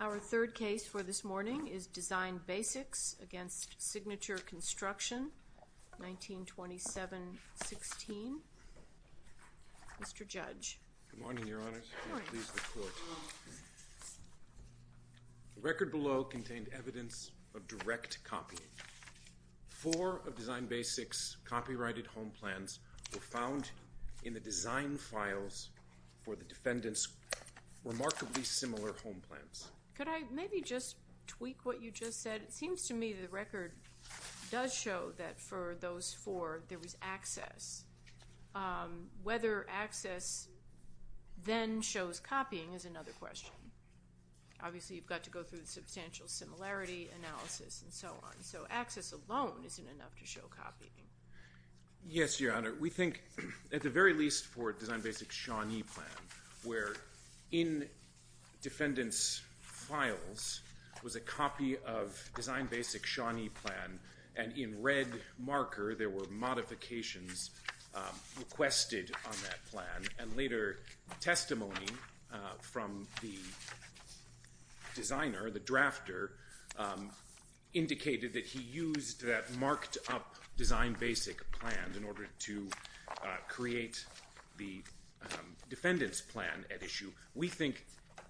Our third case for this morning is Design Basics v. Signature Construction, 1927-16. Mr. Judge. Good morning, Your Honor. The record below contained evidence of direct copying. Four of Design Basics' copyrighted home plans were found in the design files for the defendants' remarkably similar home plans. Could I maybe just tweak what you just said? It seems to me the record does show that for those four, there was access. Whether access then shows copying is another question. Obviously, you've got to go through the substantial similarity analysis and so on. So access alone isn't enough to show copying. Yes, Your Honor. We think at the very least for Design Basics' Shawnee plan, where in defendants' files was a copy of Design Basics' Shawnee plan and in red marker there were modifications requested on that plan and later testimony from the designer, the drafter, indicated that he used that marked up Design Basic plan in order to create the defendant's plan at issue. We think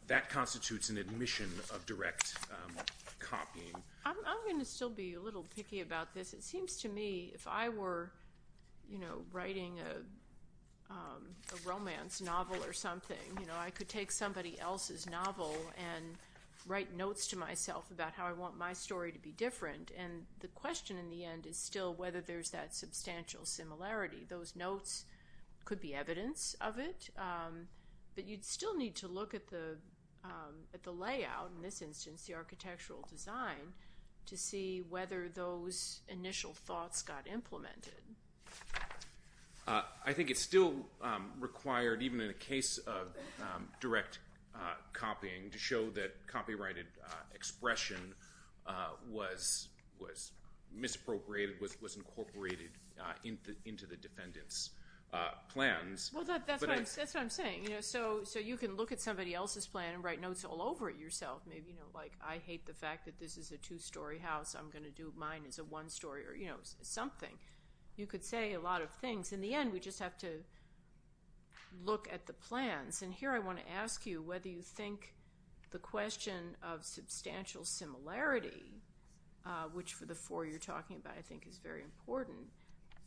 that constitutes an admission of direct copying. I'm going to still be a little picky about this. It seems to me if I were writing a romance novel or something, I could take somebody else's novel and write notes to myself about how I want my story to be different and the question in the end is still whether there's that substantial similarity. Those notes could be evidence of it, but you'd still need to look at the layout, in this instance the architectural design, to see whether those initial thoughts got implemented. I think it's still required, even in a case of direct copying, to show that copyrighted expression was misappropriated, was incorporated into the defendant's plans. That's what I'm saying. So you can look at somebody else's plan and write notes all over it yourself. I hate the fact that this is a two-story house. I'm going to do mine as a one-story or something. You could say a lot of things. In the end, we just have to look at the plans. Here I want to ask you whether you think the question of substantial similarity, which for the four you're talking about I think is very important,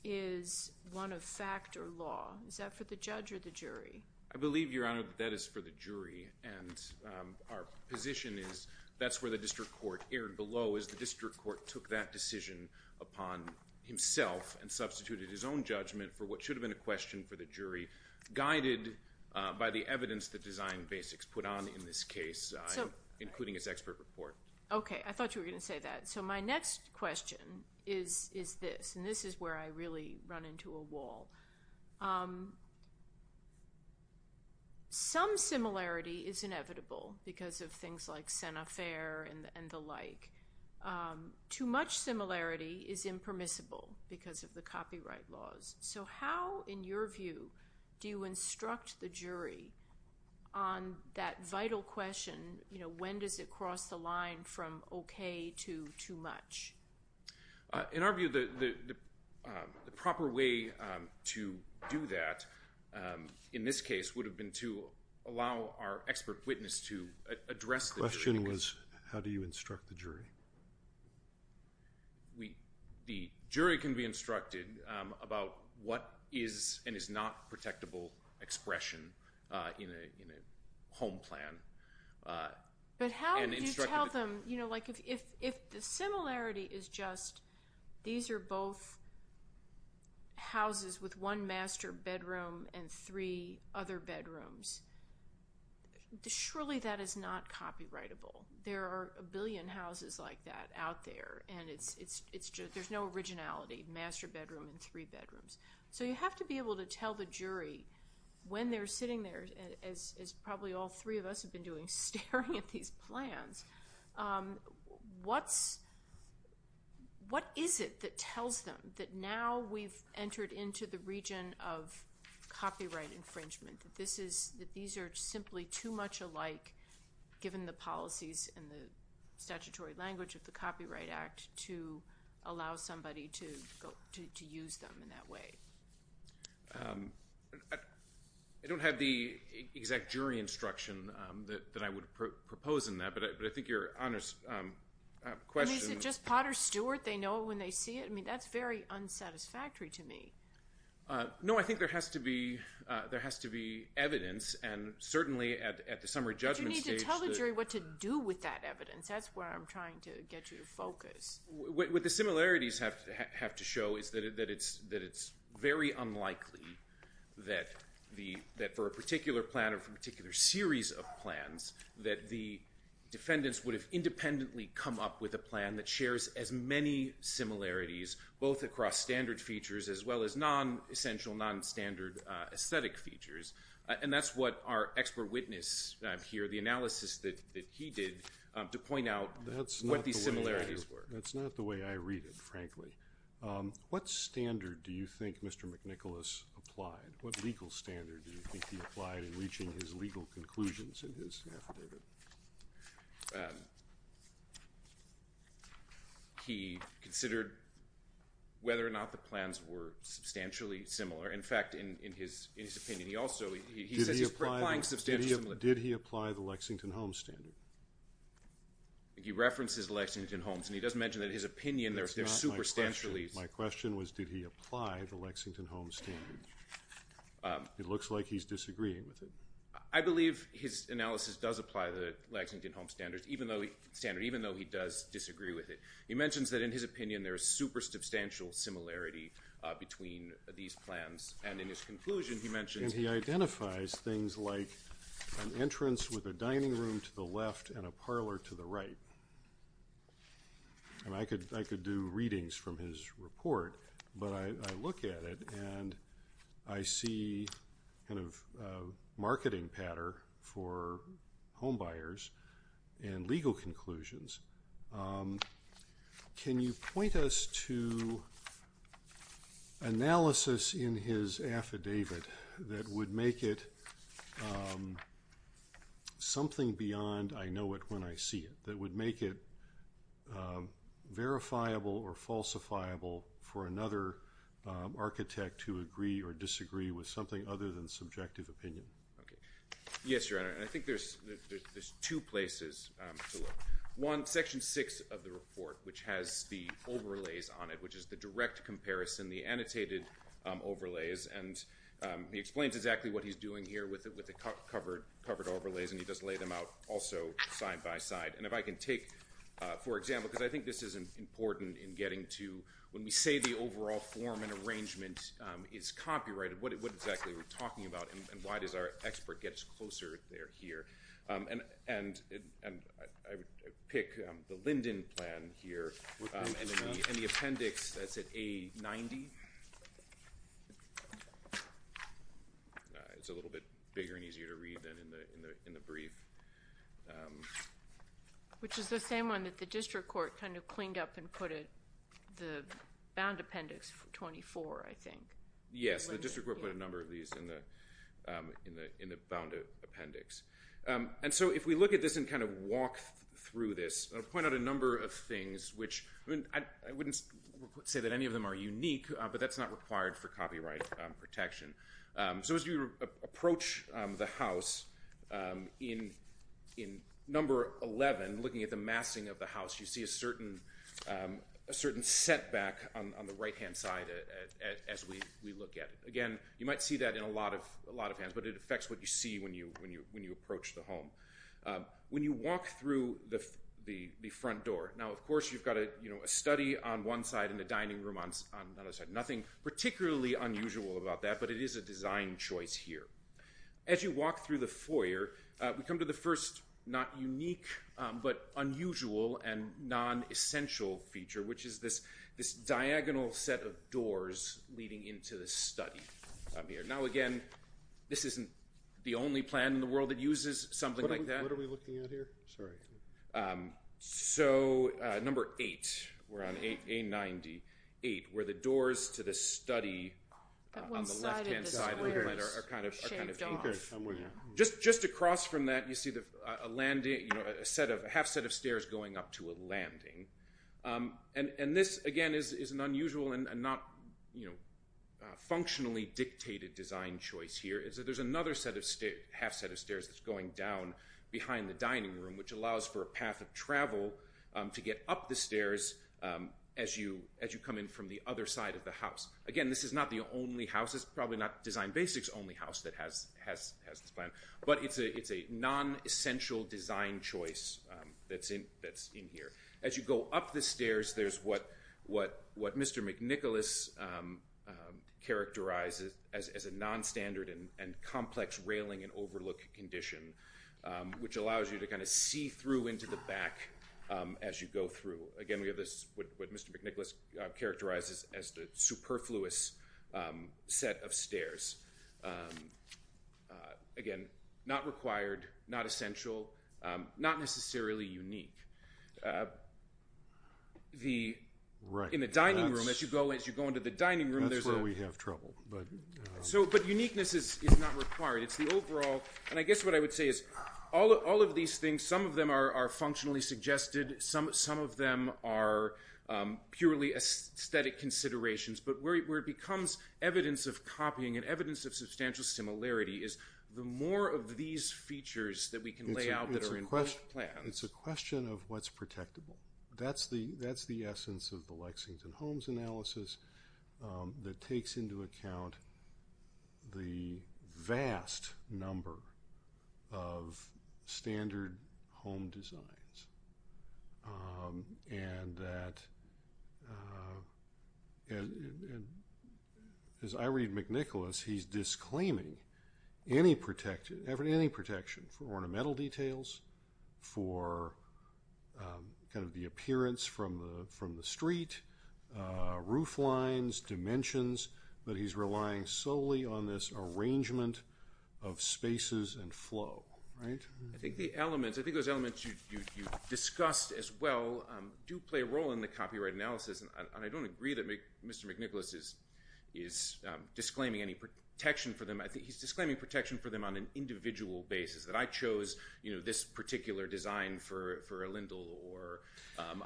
is one of fact or law. Is that for the judge or the jury? I believe, Your Honor, that is for the jury. Our position is that's where the district court erred below is the district court took that decision upon himself and substituted his own judgment for what should have been a question for the jury, guided by the evidence that Design Basics put on in this case, including its expert report. Okay. I thought you were going to say that. So my next question is this, and this is where I really run into a wall. Some similarity is inevitable because of things like Senefair and the like. Too much similarity is impermissible because of the copyright laws. So how, in your view, do you instruct the jury on that vital question, when does it cross the line from okay to too much? In our view, the proper way to do that in this case would have been to allow our expert witness to address the jury. The question was how do you instruct the jury? The jury can be instructed about what is and is not protectable expression in a home plan. But how do you tell them, you know, like if the similarity is just these are both houses with one master bedroom and three other bedrooms, surely that is not copyrightable. There are a billion houses like that out there, and there's no originality, master bedroom and three bedrooms. So you have to be able to tell the jury when they're sitting there, as probably all three of us have been doing, staring at these plans, what is it that tells them that now we've entered into the region of copyright infringement, that these are simply too much alike given the policies and the statutory language of the Copyright Act to allow somebody to use them in that way. I don't have the exact jury instruction that I would propose in that, but I think your honest question. Is it just Potter Stewart they know when they see it? I mean, that's very unsatisfactory to me. No, I think there has to be evidence, and certainly at the summary judgment stage. But you need to tell the jury what to do with that evidence. That's where I'm trying to get you to focus. What the similarities have to show is that it's very unlikely that for a particular plan or for a particular series of plans that the defendants would have independently come up with a plan that shares as many similarities both across standard features as well as non-essential, non-standard aesthetic features. And that's what our expert witness here, the analysis that he did to point out what these similarities were. That's not the way I read it, frankly. What standard do you think Mr. McNicholas applied? What legal standard do you think he applied in reaching his legal conclusions in his affidavit? He considered whether or not the plans were substantially similar. In fact, in his opinion, he also says he's applying substantial similarities. Did he apply the Lexington Homes standard? He references the Lexington Homes, and he does mention that in his opinion they're superstantially similar. My question was did he apply the Lexington Homes standard? It looks like he's disagreeing with it. I believe his analysis does apply the Lexington Homes standard, even though he does disagree with it. He mentions that in his opinion there is superstantial similarity between these plans, and in his conclusion he mentions he identifies things like an entrance with a dining room to the left and a parlor to the right. I could do readings from his report, but I look at it, and I see kind of a marketing pattern for homebuyers and legal conclusions. Can you point us to analysis in his affidavit that would make it something beyond I know it when I see it, that would make it verifiable or falsifiable for another architect to agree or disagree with something other than subjective opinion? Yes, Your Honor, and I think there's two places to look. One, Section 6 of the report, which has the overlays on it, which is the direct comparison, the annotated overlays, and he explains exactly what he's doing here with the covered overlays, and he does lay them out also side by side. And if I can take, for example, because I think this is important in getting to when we say the overall form and arrangement is copyrighted, what exactly are we talking about, and why does our expert get us closer there here? And I would pick the Linden plan here, and the appendix that's at A90. It's a little bit bigger and easier to read than in the brief. Which is the same one that the district court kind of cleaned up and put at the bound appendix 24, I think. Yes, the district court put a number of these in the bound appendix. And so if we look at this and kind of walk through this, I'll point out a number of things, which I wouldn't say that any of them are unique, but that's not required for copyright protection. So as you approach the house, in Number 11, looking at the massing of the house, you see a certain setback on the right-hand side as we look at it. Again, you might see that in a lot of hands, but it affects what you see when you approach the home. When you walk through the front door, now, of course, you've got a study on one side and a dining room on the other side. Nothing particularly unusual about that, but it is a design choice here. As you walk through the foyer, we come to the first not unique but unusual and non-essential feature, which is this diagonal set of doors leading into the study up here. Now, again, this isn't the only plan in the world that uses something like that. What are we looking at here? Sorry. So Number 8, we're on A98, where the doors to the study on the left-hand side are kind of anchored. Just across from that, you see a half set of stairs going up to a landing. This, again, is an unusual and not functionally dictated design choice here. There's another half set of stairs that's going down behind the dining room, which allows for a path of travel to get up the stairs as you come in from the other side of the house. Again, this is not the only house. It's probably not Design Basics' only house that has this plan, but it's a non-essential design choice that's in here. As you go up the stairs, there's what Mr. McNicholas characterizes as a non-standard and complex railing and overlook condition, which allows you to kind of see through into the back as you go through. Again, we have this, what Mr. McNicholas characterizes as the superfluous set of stairs. Again, not required, not essential, not necessarily unique. In the dining room, as you go into the dining room, there's a— That's where we have trouble. Uniqueness is not required. It's the overall—and I guess what I would say is all of these things, some of them are functionally suggested, some of them are purely aesthetic considerations, but where it becomes evidence of copying and evidence of substantial similarity is the more of these features that we can lay out that are in both plans. It's a question of what's protectable. That's the essence of the Lexington Homes analysis that takes into account the vast number of standard home designs. As I read McNicholas, he's disclaiming any protection for ornamental details, for kind of the appearance from the street, roof lines, dimensions, but he's relying solely on this arrangement of spaces and flow, right? I think those elements you discussed as well do play a role in the copyright analysis, and I don't agree that Mr. McNicholas is disclaiming any protection for them. I think he's disclaiming protection for them on an individual basis, that I chose this particular design for a lindle or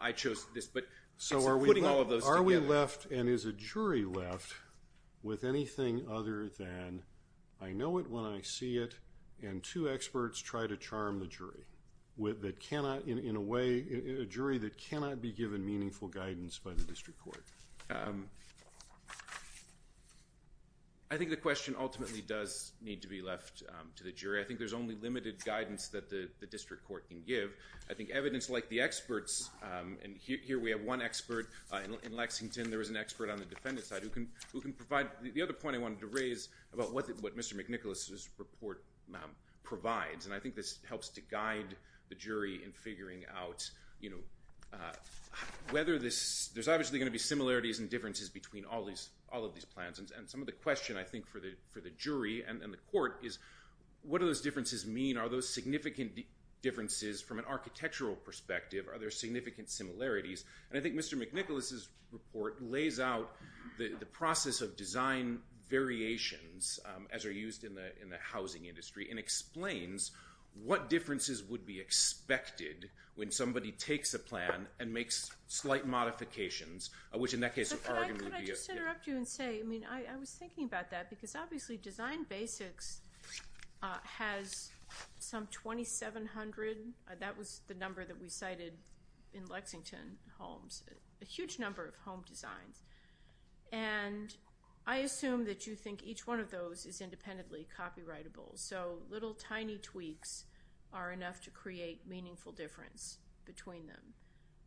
I chose this, but putting all of those together— So are we left and is a jury left with anything other than I know it when I see it and two experts try to charm the jury in a way, a jury that cannot be given meaningful guidance by the district court? I think the question ultimately does need to be left to the jury. I think there's only limited guidance that the district court can give. I think evidence like the experts, and here we have one expert in Lexington. There was an expert on the defendant's side who can provide— The other point I wanted to raise about what Mr. McNicholas's report provides, and I think this helps to guide the jury in figuring out whether this— There's obviously going to be similarities and differences between all of these plans, and some of the question, I think, for the jury and the court is, what do those differences mean? Are those significant differences from an architectural perspective? Are there significant similarities? I think Mr. McNicholas's report lays out the process of design variations as are used in the housing industry and explains what differences would be expected when somebody takes a plan and makes slight modifications, which in that case— Could I just interrupt you and say, I mean, I was thinking about that, because obviously Design Basics has some 2,700— that was the number that we cited in Lexington homes, a huge number of home designs. And I assume that you think each one of those is independently copyrightable, so little tiny tweaks are enough to create meaningful difference between them.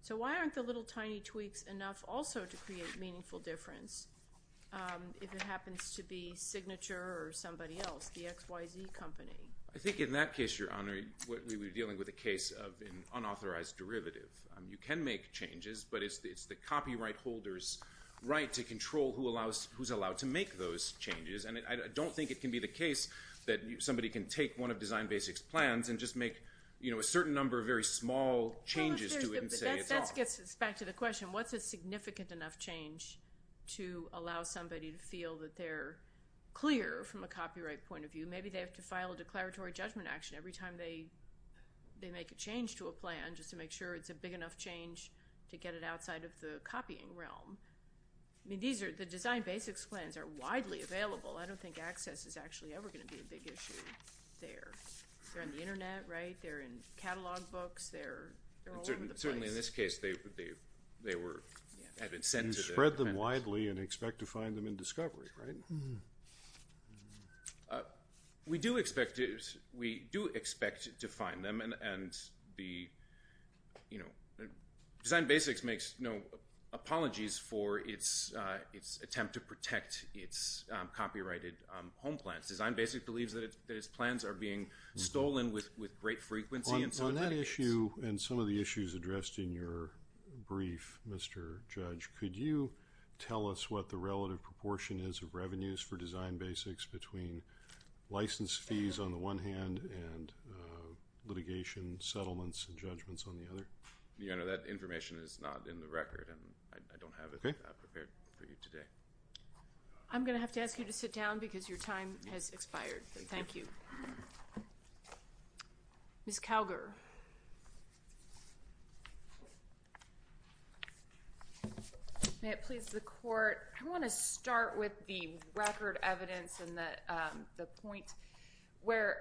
So why aren't the little tiny tweaks enough also to create meaningful difference if it happens to be Signature or somebody else, the XYZ Company? I think in that case, Your Honor, we're dealing with a case of an unauthorized derivative. You can make changes, but it's the copyright holder's right to control who's allowed to make those changes, and I don't think it can be the case that somebody can take one of Design Basics' plans and just make a certain number of very small changes to it and say it's off. That gets us back to the question, what's a significant enough change to allow somebody to feel that they're clear from a copyright point of view? Maybe they have to file a declaratory judgment action every time they make a change to a plan just to make sure it's a big enough change to get it outside of the copying realm. I mean, the Design Basics plans are widely available. I don't think access is actually ever going to be a big issue there. They're on the Internet, right? They're in catalog books. They're all over the place. Certainly in this case, they have been sent to the defendants. You spread them widely and expect to find them in discovery, right? We do expect to find them, and Design Basics makes no apologies for its attempt to protect its copyrighted home plans. Design Basics believes that its plans are being stolen with great frequency. On that issue and some of the issues addressed in your brief, Mr. Judge, could you tell us what the relative proportion is of revenues for Design Basics between license fees on the one hand and litigation settlements and judgments on the other? That information is not in the record, and I don't have it prepared for you today. I'm going to have to ask you to sit down because your time has expired. Thank you. Ms. Calger. May it please the court, I want to start with the record evidence and the point where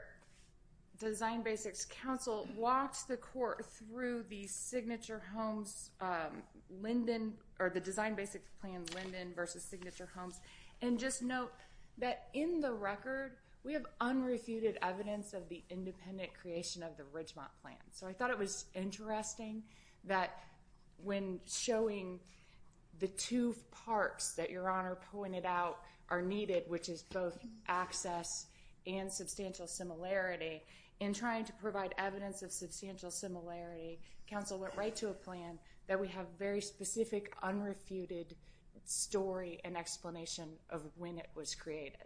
Design Basics counsel walked the court through the Signature Homes Linden or the Design Basics plan Linden versus Signature Homes, and just note that in the record we have unrefuted evidence of the independent creation of the Ridgemont plan. So I thought it was interesting that when showing the two parts that your Honor pointed out are needed, which is both access and substantial similarity, in trying to provide evidence of substantial similarity, counsel went right to a plan that we have very specific unrefuted story and explanation of when it was created.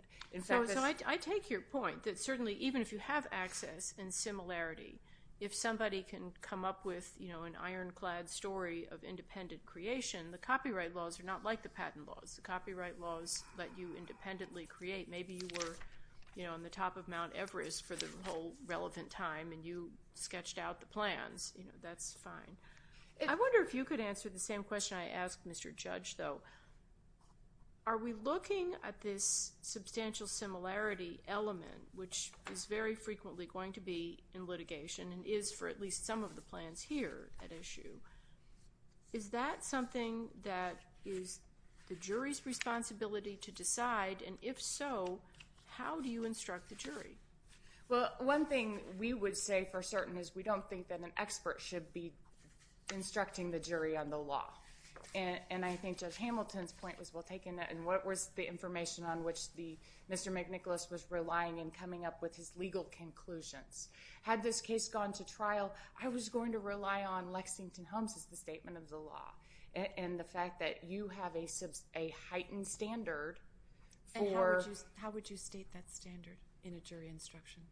So I take your point that certainly even if you have access and similarity, if somebody can come up with an ironclad story of independent creation, the copyright laws are not like the patent laws. The copyright laws let you independently create. Maybe you were on the top of Mount Everest for the whole relevant time and you sketched out the plans. That's fine. I wonder if you could answer the same question I asked Mr. Judge, though. Are we looking at this substantial similarity element, which is very frequently going to be in litigation and is for at least some of the plans here at issue, is that something that is the jury's responsibility to decide, and if so, how do you instruct the jury? Well, one thing we would say for certain is we don't think that an expert should be instructing the jury on the law. And I think Judge Hamilton's point was well taken, and what was the information on which Mr. McNicholas was relying in coming up with his legal conclusions. Had this case gone to trial, I was going to rely on Lexington Holmes' statement of the law and the fact that you have a heightened standard. And how would you state that standard in a jury instruction?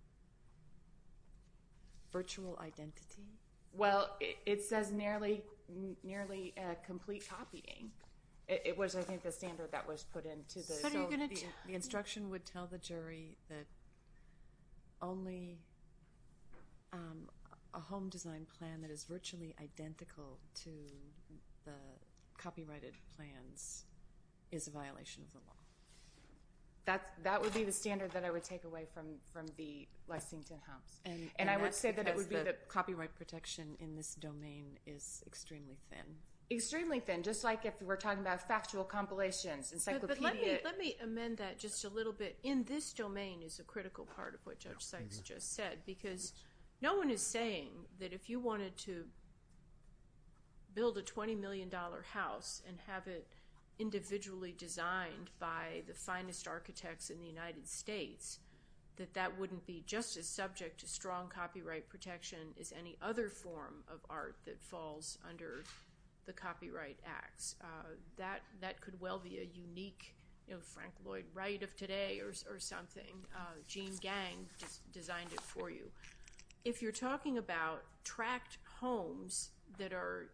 Virtual identity? Well, it says nearly complete copying. It was, I think, the standard that was put in. So the instruction would tell the jury that only a home design plan that is virtually identical to the copyrighted plans is a violation of the law. That would be the standard that I would take away from the Lexington Holmes. And I would say that it would be the copyright protection in this domain is extremely thin. Extremely thin, just like if we're talking about factual compilations, encyclopedia. But let me amend that just a little bit. In this domain is a critical part of what Judge Sykes just said because no one is saying that if you wanted to build a $20 million house and have it individually designed by the finest architects in the United States, that that wouldn't be just as subject to strong copyright protection as any other form of art that falls under the copyright acts. That could well be a unique Frank Lloyd Wright of today or something. Gene Gang designed it for you. If you're talking about tract homes that are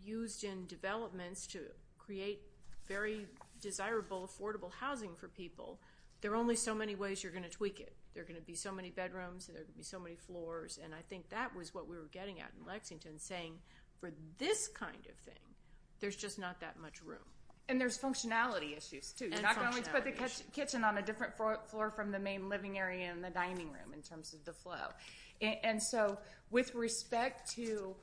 used in developments to create very desirable, affordable housing for people, there are only so many ways you're going to tweak it. There are going to be so many bedrooms and there are going to be so many floors, and I think that was what we were getting at in Lexington, saying for this kind of thing, there's just not that much room. And there's functionality issues, too. You're not going to put the kitchen on a different floor from the main living area in the dining room in terms of the flow. And so with respect to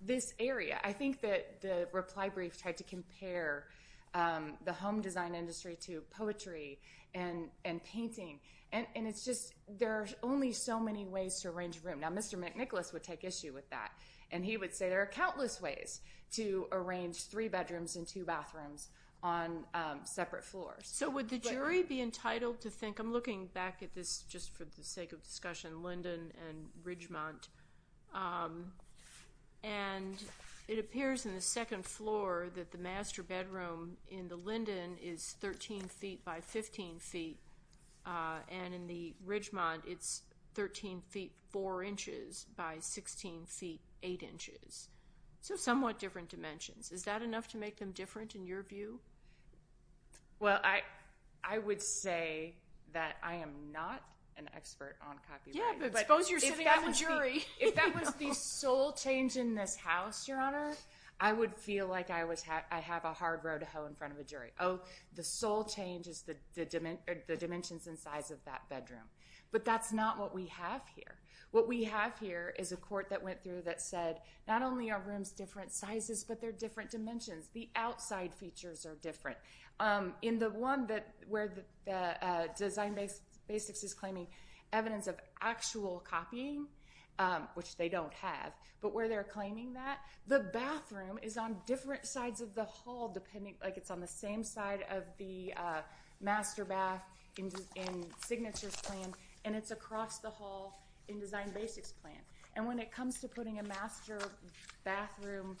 this area, I think that the reply brief tried to compare the home design industry to poetry and painting, and it's just there are only so many ways to arrange a room. Now, Mr. McNicholas would take issue with that, and he would say there are countless ways to arrange three bedrooms and two bathrooms on separate floors. So would the jury be entitled to think, I'm looking back at this just for the sake of discussion, Linden and Ridgemont, and it appears in the second floor that the master bedroom in the Linden is 13 feet by 15 feet, and in the Ridgemont it's 13 feet 4 inches by 16 feet 8 inches, so somewhat different dimensions. Is that enough to make them different in your view? Well, I would say that I am not an expert on copyright. Yeah, but suppose you're sitting at the jury. If that was the sole change in this house, Your Honor, I would feel like I have a hard row to hoe in front of a jury. Oh, the sole change is the dimensions and size of that bedroom. But that's not what we have here. What we have here is a court that went through that said, not only are rooms different sizes, but they're different dimensions. The outside features are different. In the one where Design Basics is claiming evidence of actual copying, which they don't have, but where they're claiming that, the bathroom is on different sides of the hall, like it's on the same side of the master bath in Signature's plan, and it's across the hall in Design Basics' plan. And when it comes to putting a master bedroom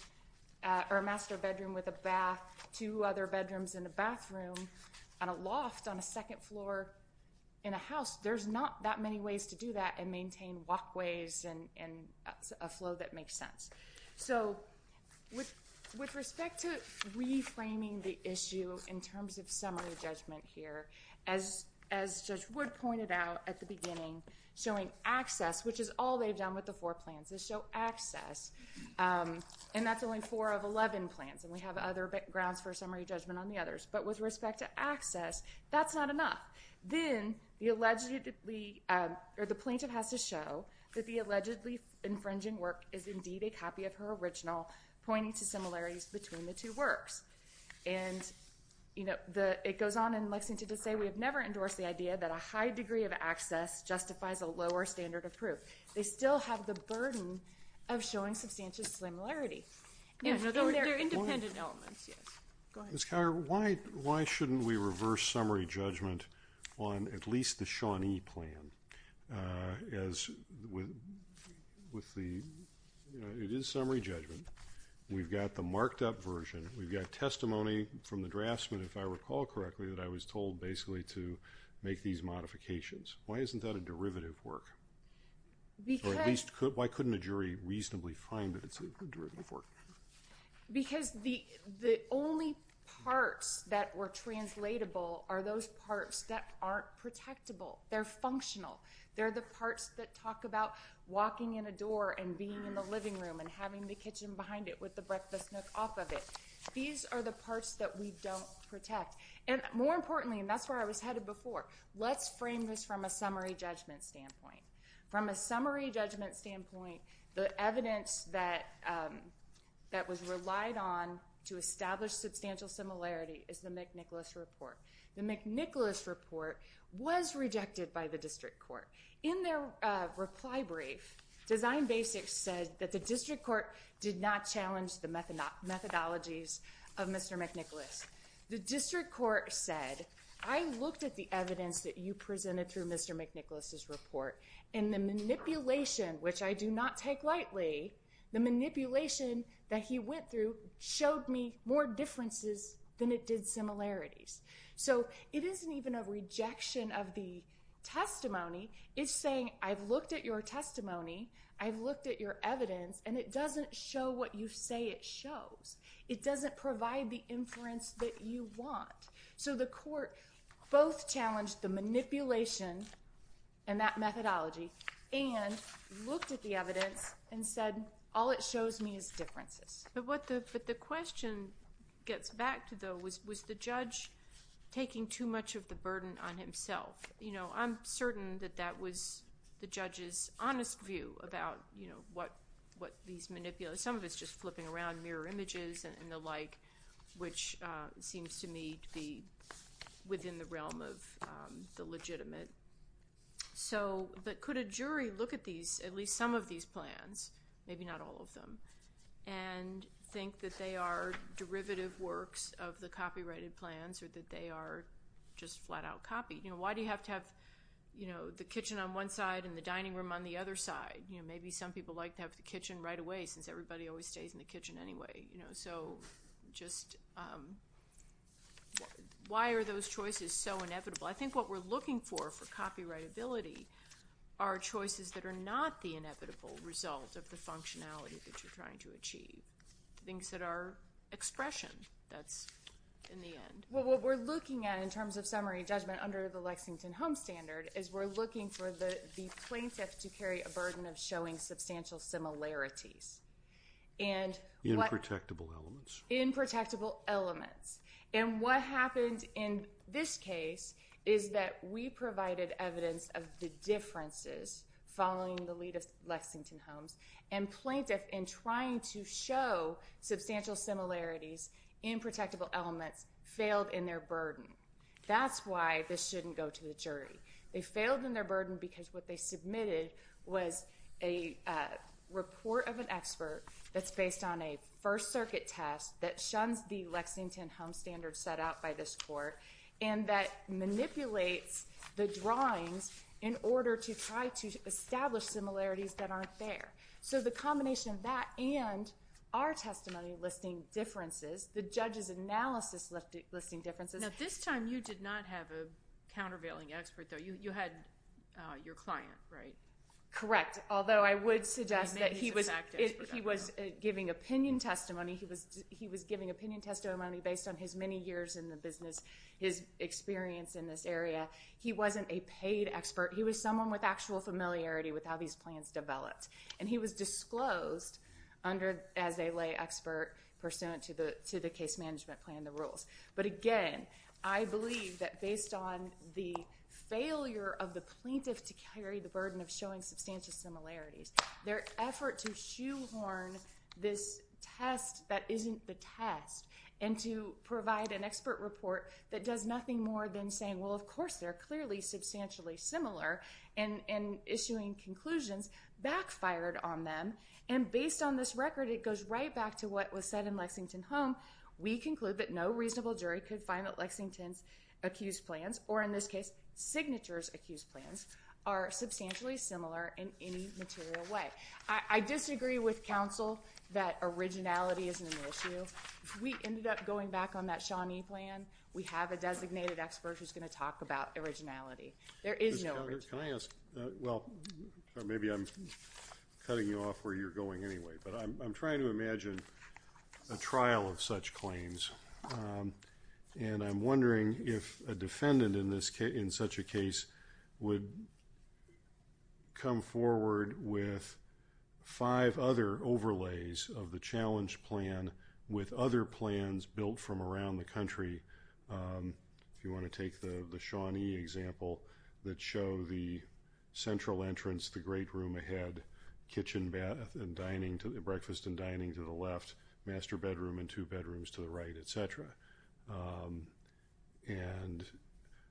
with a bath, two other bedrooms and a bathroom, and a loft on a second floor in a house, there's not that many ways to do that and maintain walkways and a flow that makes sense. So with respect to reframing the issue in terms of summary judgment here, as Judge Wood pointed out at the beginning, showing access, which is all they've done with the four plans, is show access. And that's only four of 11 plans, and we have other grounds for summary judgment on the others. But with respect to access, that's not enough. Then the plaintiff has to show that the allegedly infringing work is indeed a copy of her original, pointing to similarities between the two works. And, you know, it goes on in Lexington to say, we have never endorsed the idea that a high degree of access justifies a lower standard of proof. They still have the burden of showing substantial similarity. They're independent elements, yes. Ms. Collier, why shouldn't we reverse summary judgment on at least the Shawnee plan? It is summary judgment. We've got the marked up version. We've got testimony from the draftsman, if I recall correctly, that I was told basically to make these modifications. Why isn't that a derivative work? Or at least why couldn't a jury reasonably find that it's a derivative work? Because the only parts that were translatable are those parts that aren't protectable. They're functional. They're the parts that talk about walking in a door and being in the living room and having the kitchen behind it with the breakfast nook off of it. These are the parts that we don't protect. And more importantly, and that's where I was headed before, let's frame this from a summary judgment standpoint. From a summary judgment standpoint, the evidence that was relied on to establish substantial similarity is the McNicholas report. The McNicholas report was rejected by the district court. In their reply brief, Design Basics said that the district court did not challenge the methodologies of Mr. McNicholas. The district court said, I looked at the evidence that you presented through Mr. McNicholas' report, and the manipulation, which I do not take lightly, the manipulation that he went through showed me more differences than it did similarities. So it isn't even a rejection of the testimony. It's saying, I've looked at your testimony, I've looked at your evidence, and it doesn't show what you say it shows. It doesn't provide the inference that you want. So the court both challenged the manipulation and that methodology and looked at the evidence and said, all it shows me is differences. But what the question gets back to, though, was the judge taking too much of the burden on himself. You know, I'm certain that that was the judge's honest view about, you know, what these manipulators, some of it's just flipping around mirror images and the like, which seems to me to be within the realm of the legitimate. But could a jury look at these, at least some of these plans, maybe not all of them, and think that they are derivative works of the copyrighted plans or that they are just flat-out copied? You know, why do you have to have, you know, the kitchen on one side and the dining room on the other side? You know, maybe some people like to have the kitchen right away since everybody always stays in the kitchen anyway. You know, so just why are those choices so inevitable? I think what we're looking for for copyrightability are choices that are not the inevitable result of the functionality that you're trying to achieve. Things that are expression, that's in the end. Well, what we're looking at in terms of summary judgment under the Lexington Home Standard is we're looking for the plaintiff to carry a burden of showing substantial similarities. Inprotectable elements. Inprotectable elements. And what happened in this case is that we provided evidence of the differences following the lead of Lexington Homes, and plaintiff in trying to show substantial similarities, inprotectable elements, failed in their burden. That's why this shouldn't go to the jury. They failed in their burden because what they submitted was a report of an expert that's based on a First Circuit test that shuns the Lexington Home Standard set out by this court and that manipulates the drawings in order to try to establish similarities that aren't there. So the combination of that and our testimony listing differences, the judge's analysis listing differences. Now, this time you did not have a countervailing expert, though. You had your client, right? Correct. Although I would suggest that he was giving opinion testimony. He was giving opinion testimony based on his many years in the business, his experience in this area. He wasn't a paid expert. He was someone with actual familiarity with how these plans developed, and he was disclosed as a lay expert pursuant to the case management plan and the rules. But again, I believe that based on the failure of the plaintiff to carry the burden of showing substantial similarities, their effort to shoehorn this test that isn't the test and to provide an expert report that does nothing more than saying, well, of course they're clearly substantially similar and issuing conclusions backfired on them. And based on this record, it goes right back to what was said in Lexington Home. We conclude that no reasonable jury could find that Lexington's accused plans, or in this case, Signature's accused plans, are substantially similar in any material way. I disagree with counsel that originality isn't an issue. We ended up going back on that Shawnee plan. We have a designated expert who's going to talk about originality. There is no originality. Well, maybe I'm cutting you off where you're going anyway, but I'm trying to imagine a trial of such claims, and I'm wondering if a defendant in such a case would come forward with five other overlays of the challenge plan with other plans built from around the country. If you want to take the Shawnee example that show the central entrance, the great room ahead, kitchen bath and dining, breakfast and dining to the left, master bedroom and two bedrooms to the right, et cetera. And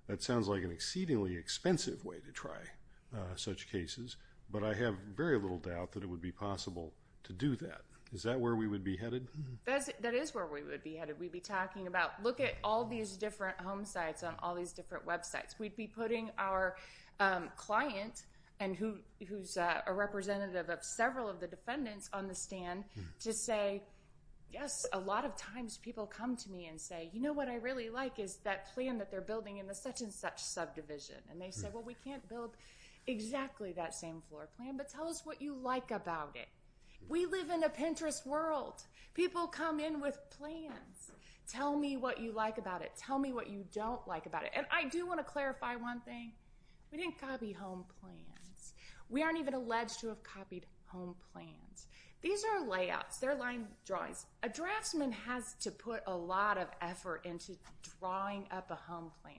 that sounds like an exceedingly expensive way to try such cases, but I have very little doubt that it would be possible to do that. Is that where we would be headed? That is where we would be headed. We'd be talking about, look at all these different home sites on all these different websites. We'd be putting our client, who's a representative of several of the defendants on the stand, to say, yes, a lot of times people come to me and say, you know what I really like is that plan that they're building in the such and such subdivision. And they say, well, we can't build exactly that same floor plan, but tell us what you like about it. We live in a Pinterest world. People come in with plans. Tell me what you like about it. Tell me what you don't like about it. And I do want to clarify one thing. We didn't copy home plans. We aren't even alleged to have copied home plans. These are layouts. They're line drawings. A draftsman has to put a lot of effort into drawing up a home plan.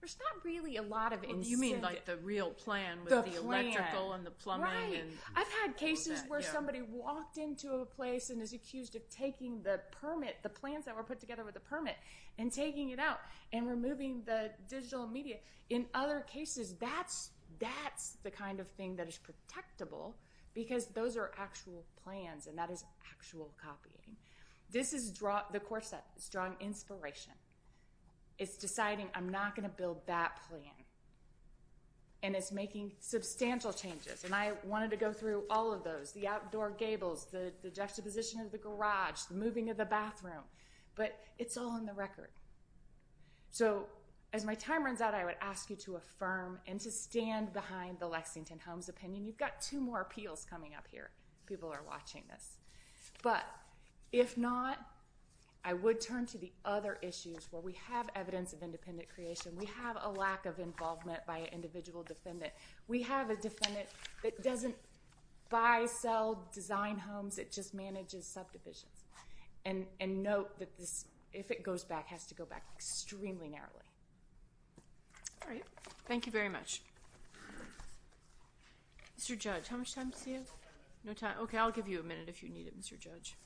There's not really a lot of incentive. You mean like the real plan with the electrical and the plumbing and all that. Cases where somebody walked into a place and is accused of taking the permit, the plans that were put together with the permit, and taking it out and removing the digital media. In other cases, that's the kind of thing that is protectable because those are actual plans and that is actual copying. This is the core set. It's drawing inspiration. It's deciding I'm not going to build that plan. And it's making substantial changes. And I wanted to go through all of those, the outdoor gables, the juxtaposition of the garage, the moving of the bathroom. But it's all in the record. So as my time runs out, I would ask you to affirm and to stand behind the Lexington Homes opinion. You've got two more appeals coming up here. People are watching this. But if not, I would turn to the other issues where we have evidence of independent creation. We have a lack of involvement by an individual defendant. We have a defendant that doesn't buy, sell, design homes. It just manages subdivisions. And note that this, if it goes back, has to go back extremely narrowly. All right. Thank you very much. Mr. Judge, how much time do we have? No time? Okay, I'll give you a minute if you need it, Mr. Judge.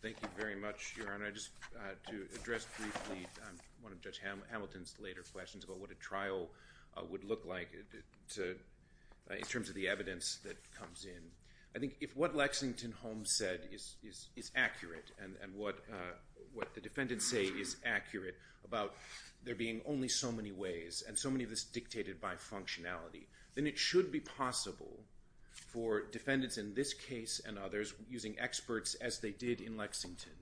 Thank you very much, Your Honor. Just to address briefly one of Judge Hamilton's later questions about what a trial would look like in terms of the evidence that comes in, I think if what Lexington Homes said is accurate and what the defendants say is accurate about there being only so many ways and so many of this dictated by functionality, then it should be possible for defendants in this case and others, using experts as they did in Lexington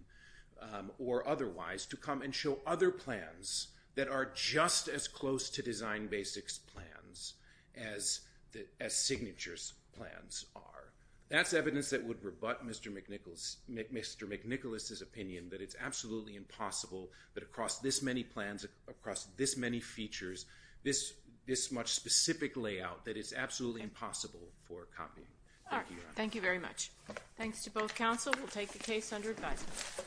or otherwise, to come and show other plans that are just as close to Design Basics' plans as Signature's plans are. That's evidence that would rebut Mr. McNicholas's opinion that it's absolutely impossible that across this many plans, across this many features, this much specific layout, that it's absolutely impossible for copying. Thank you, Your Honor. Thank you very much. Thanks to both counsel. We'll take the case under advisement.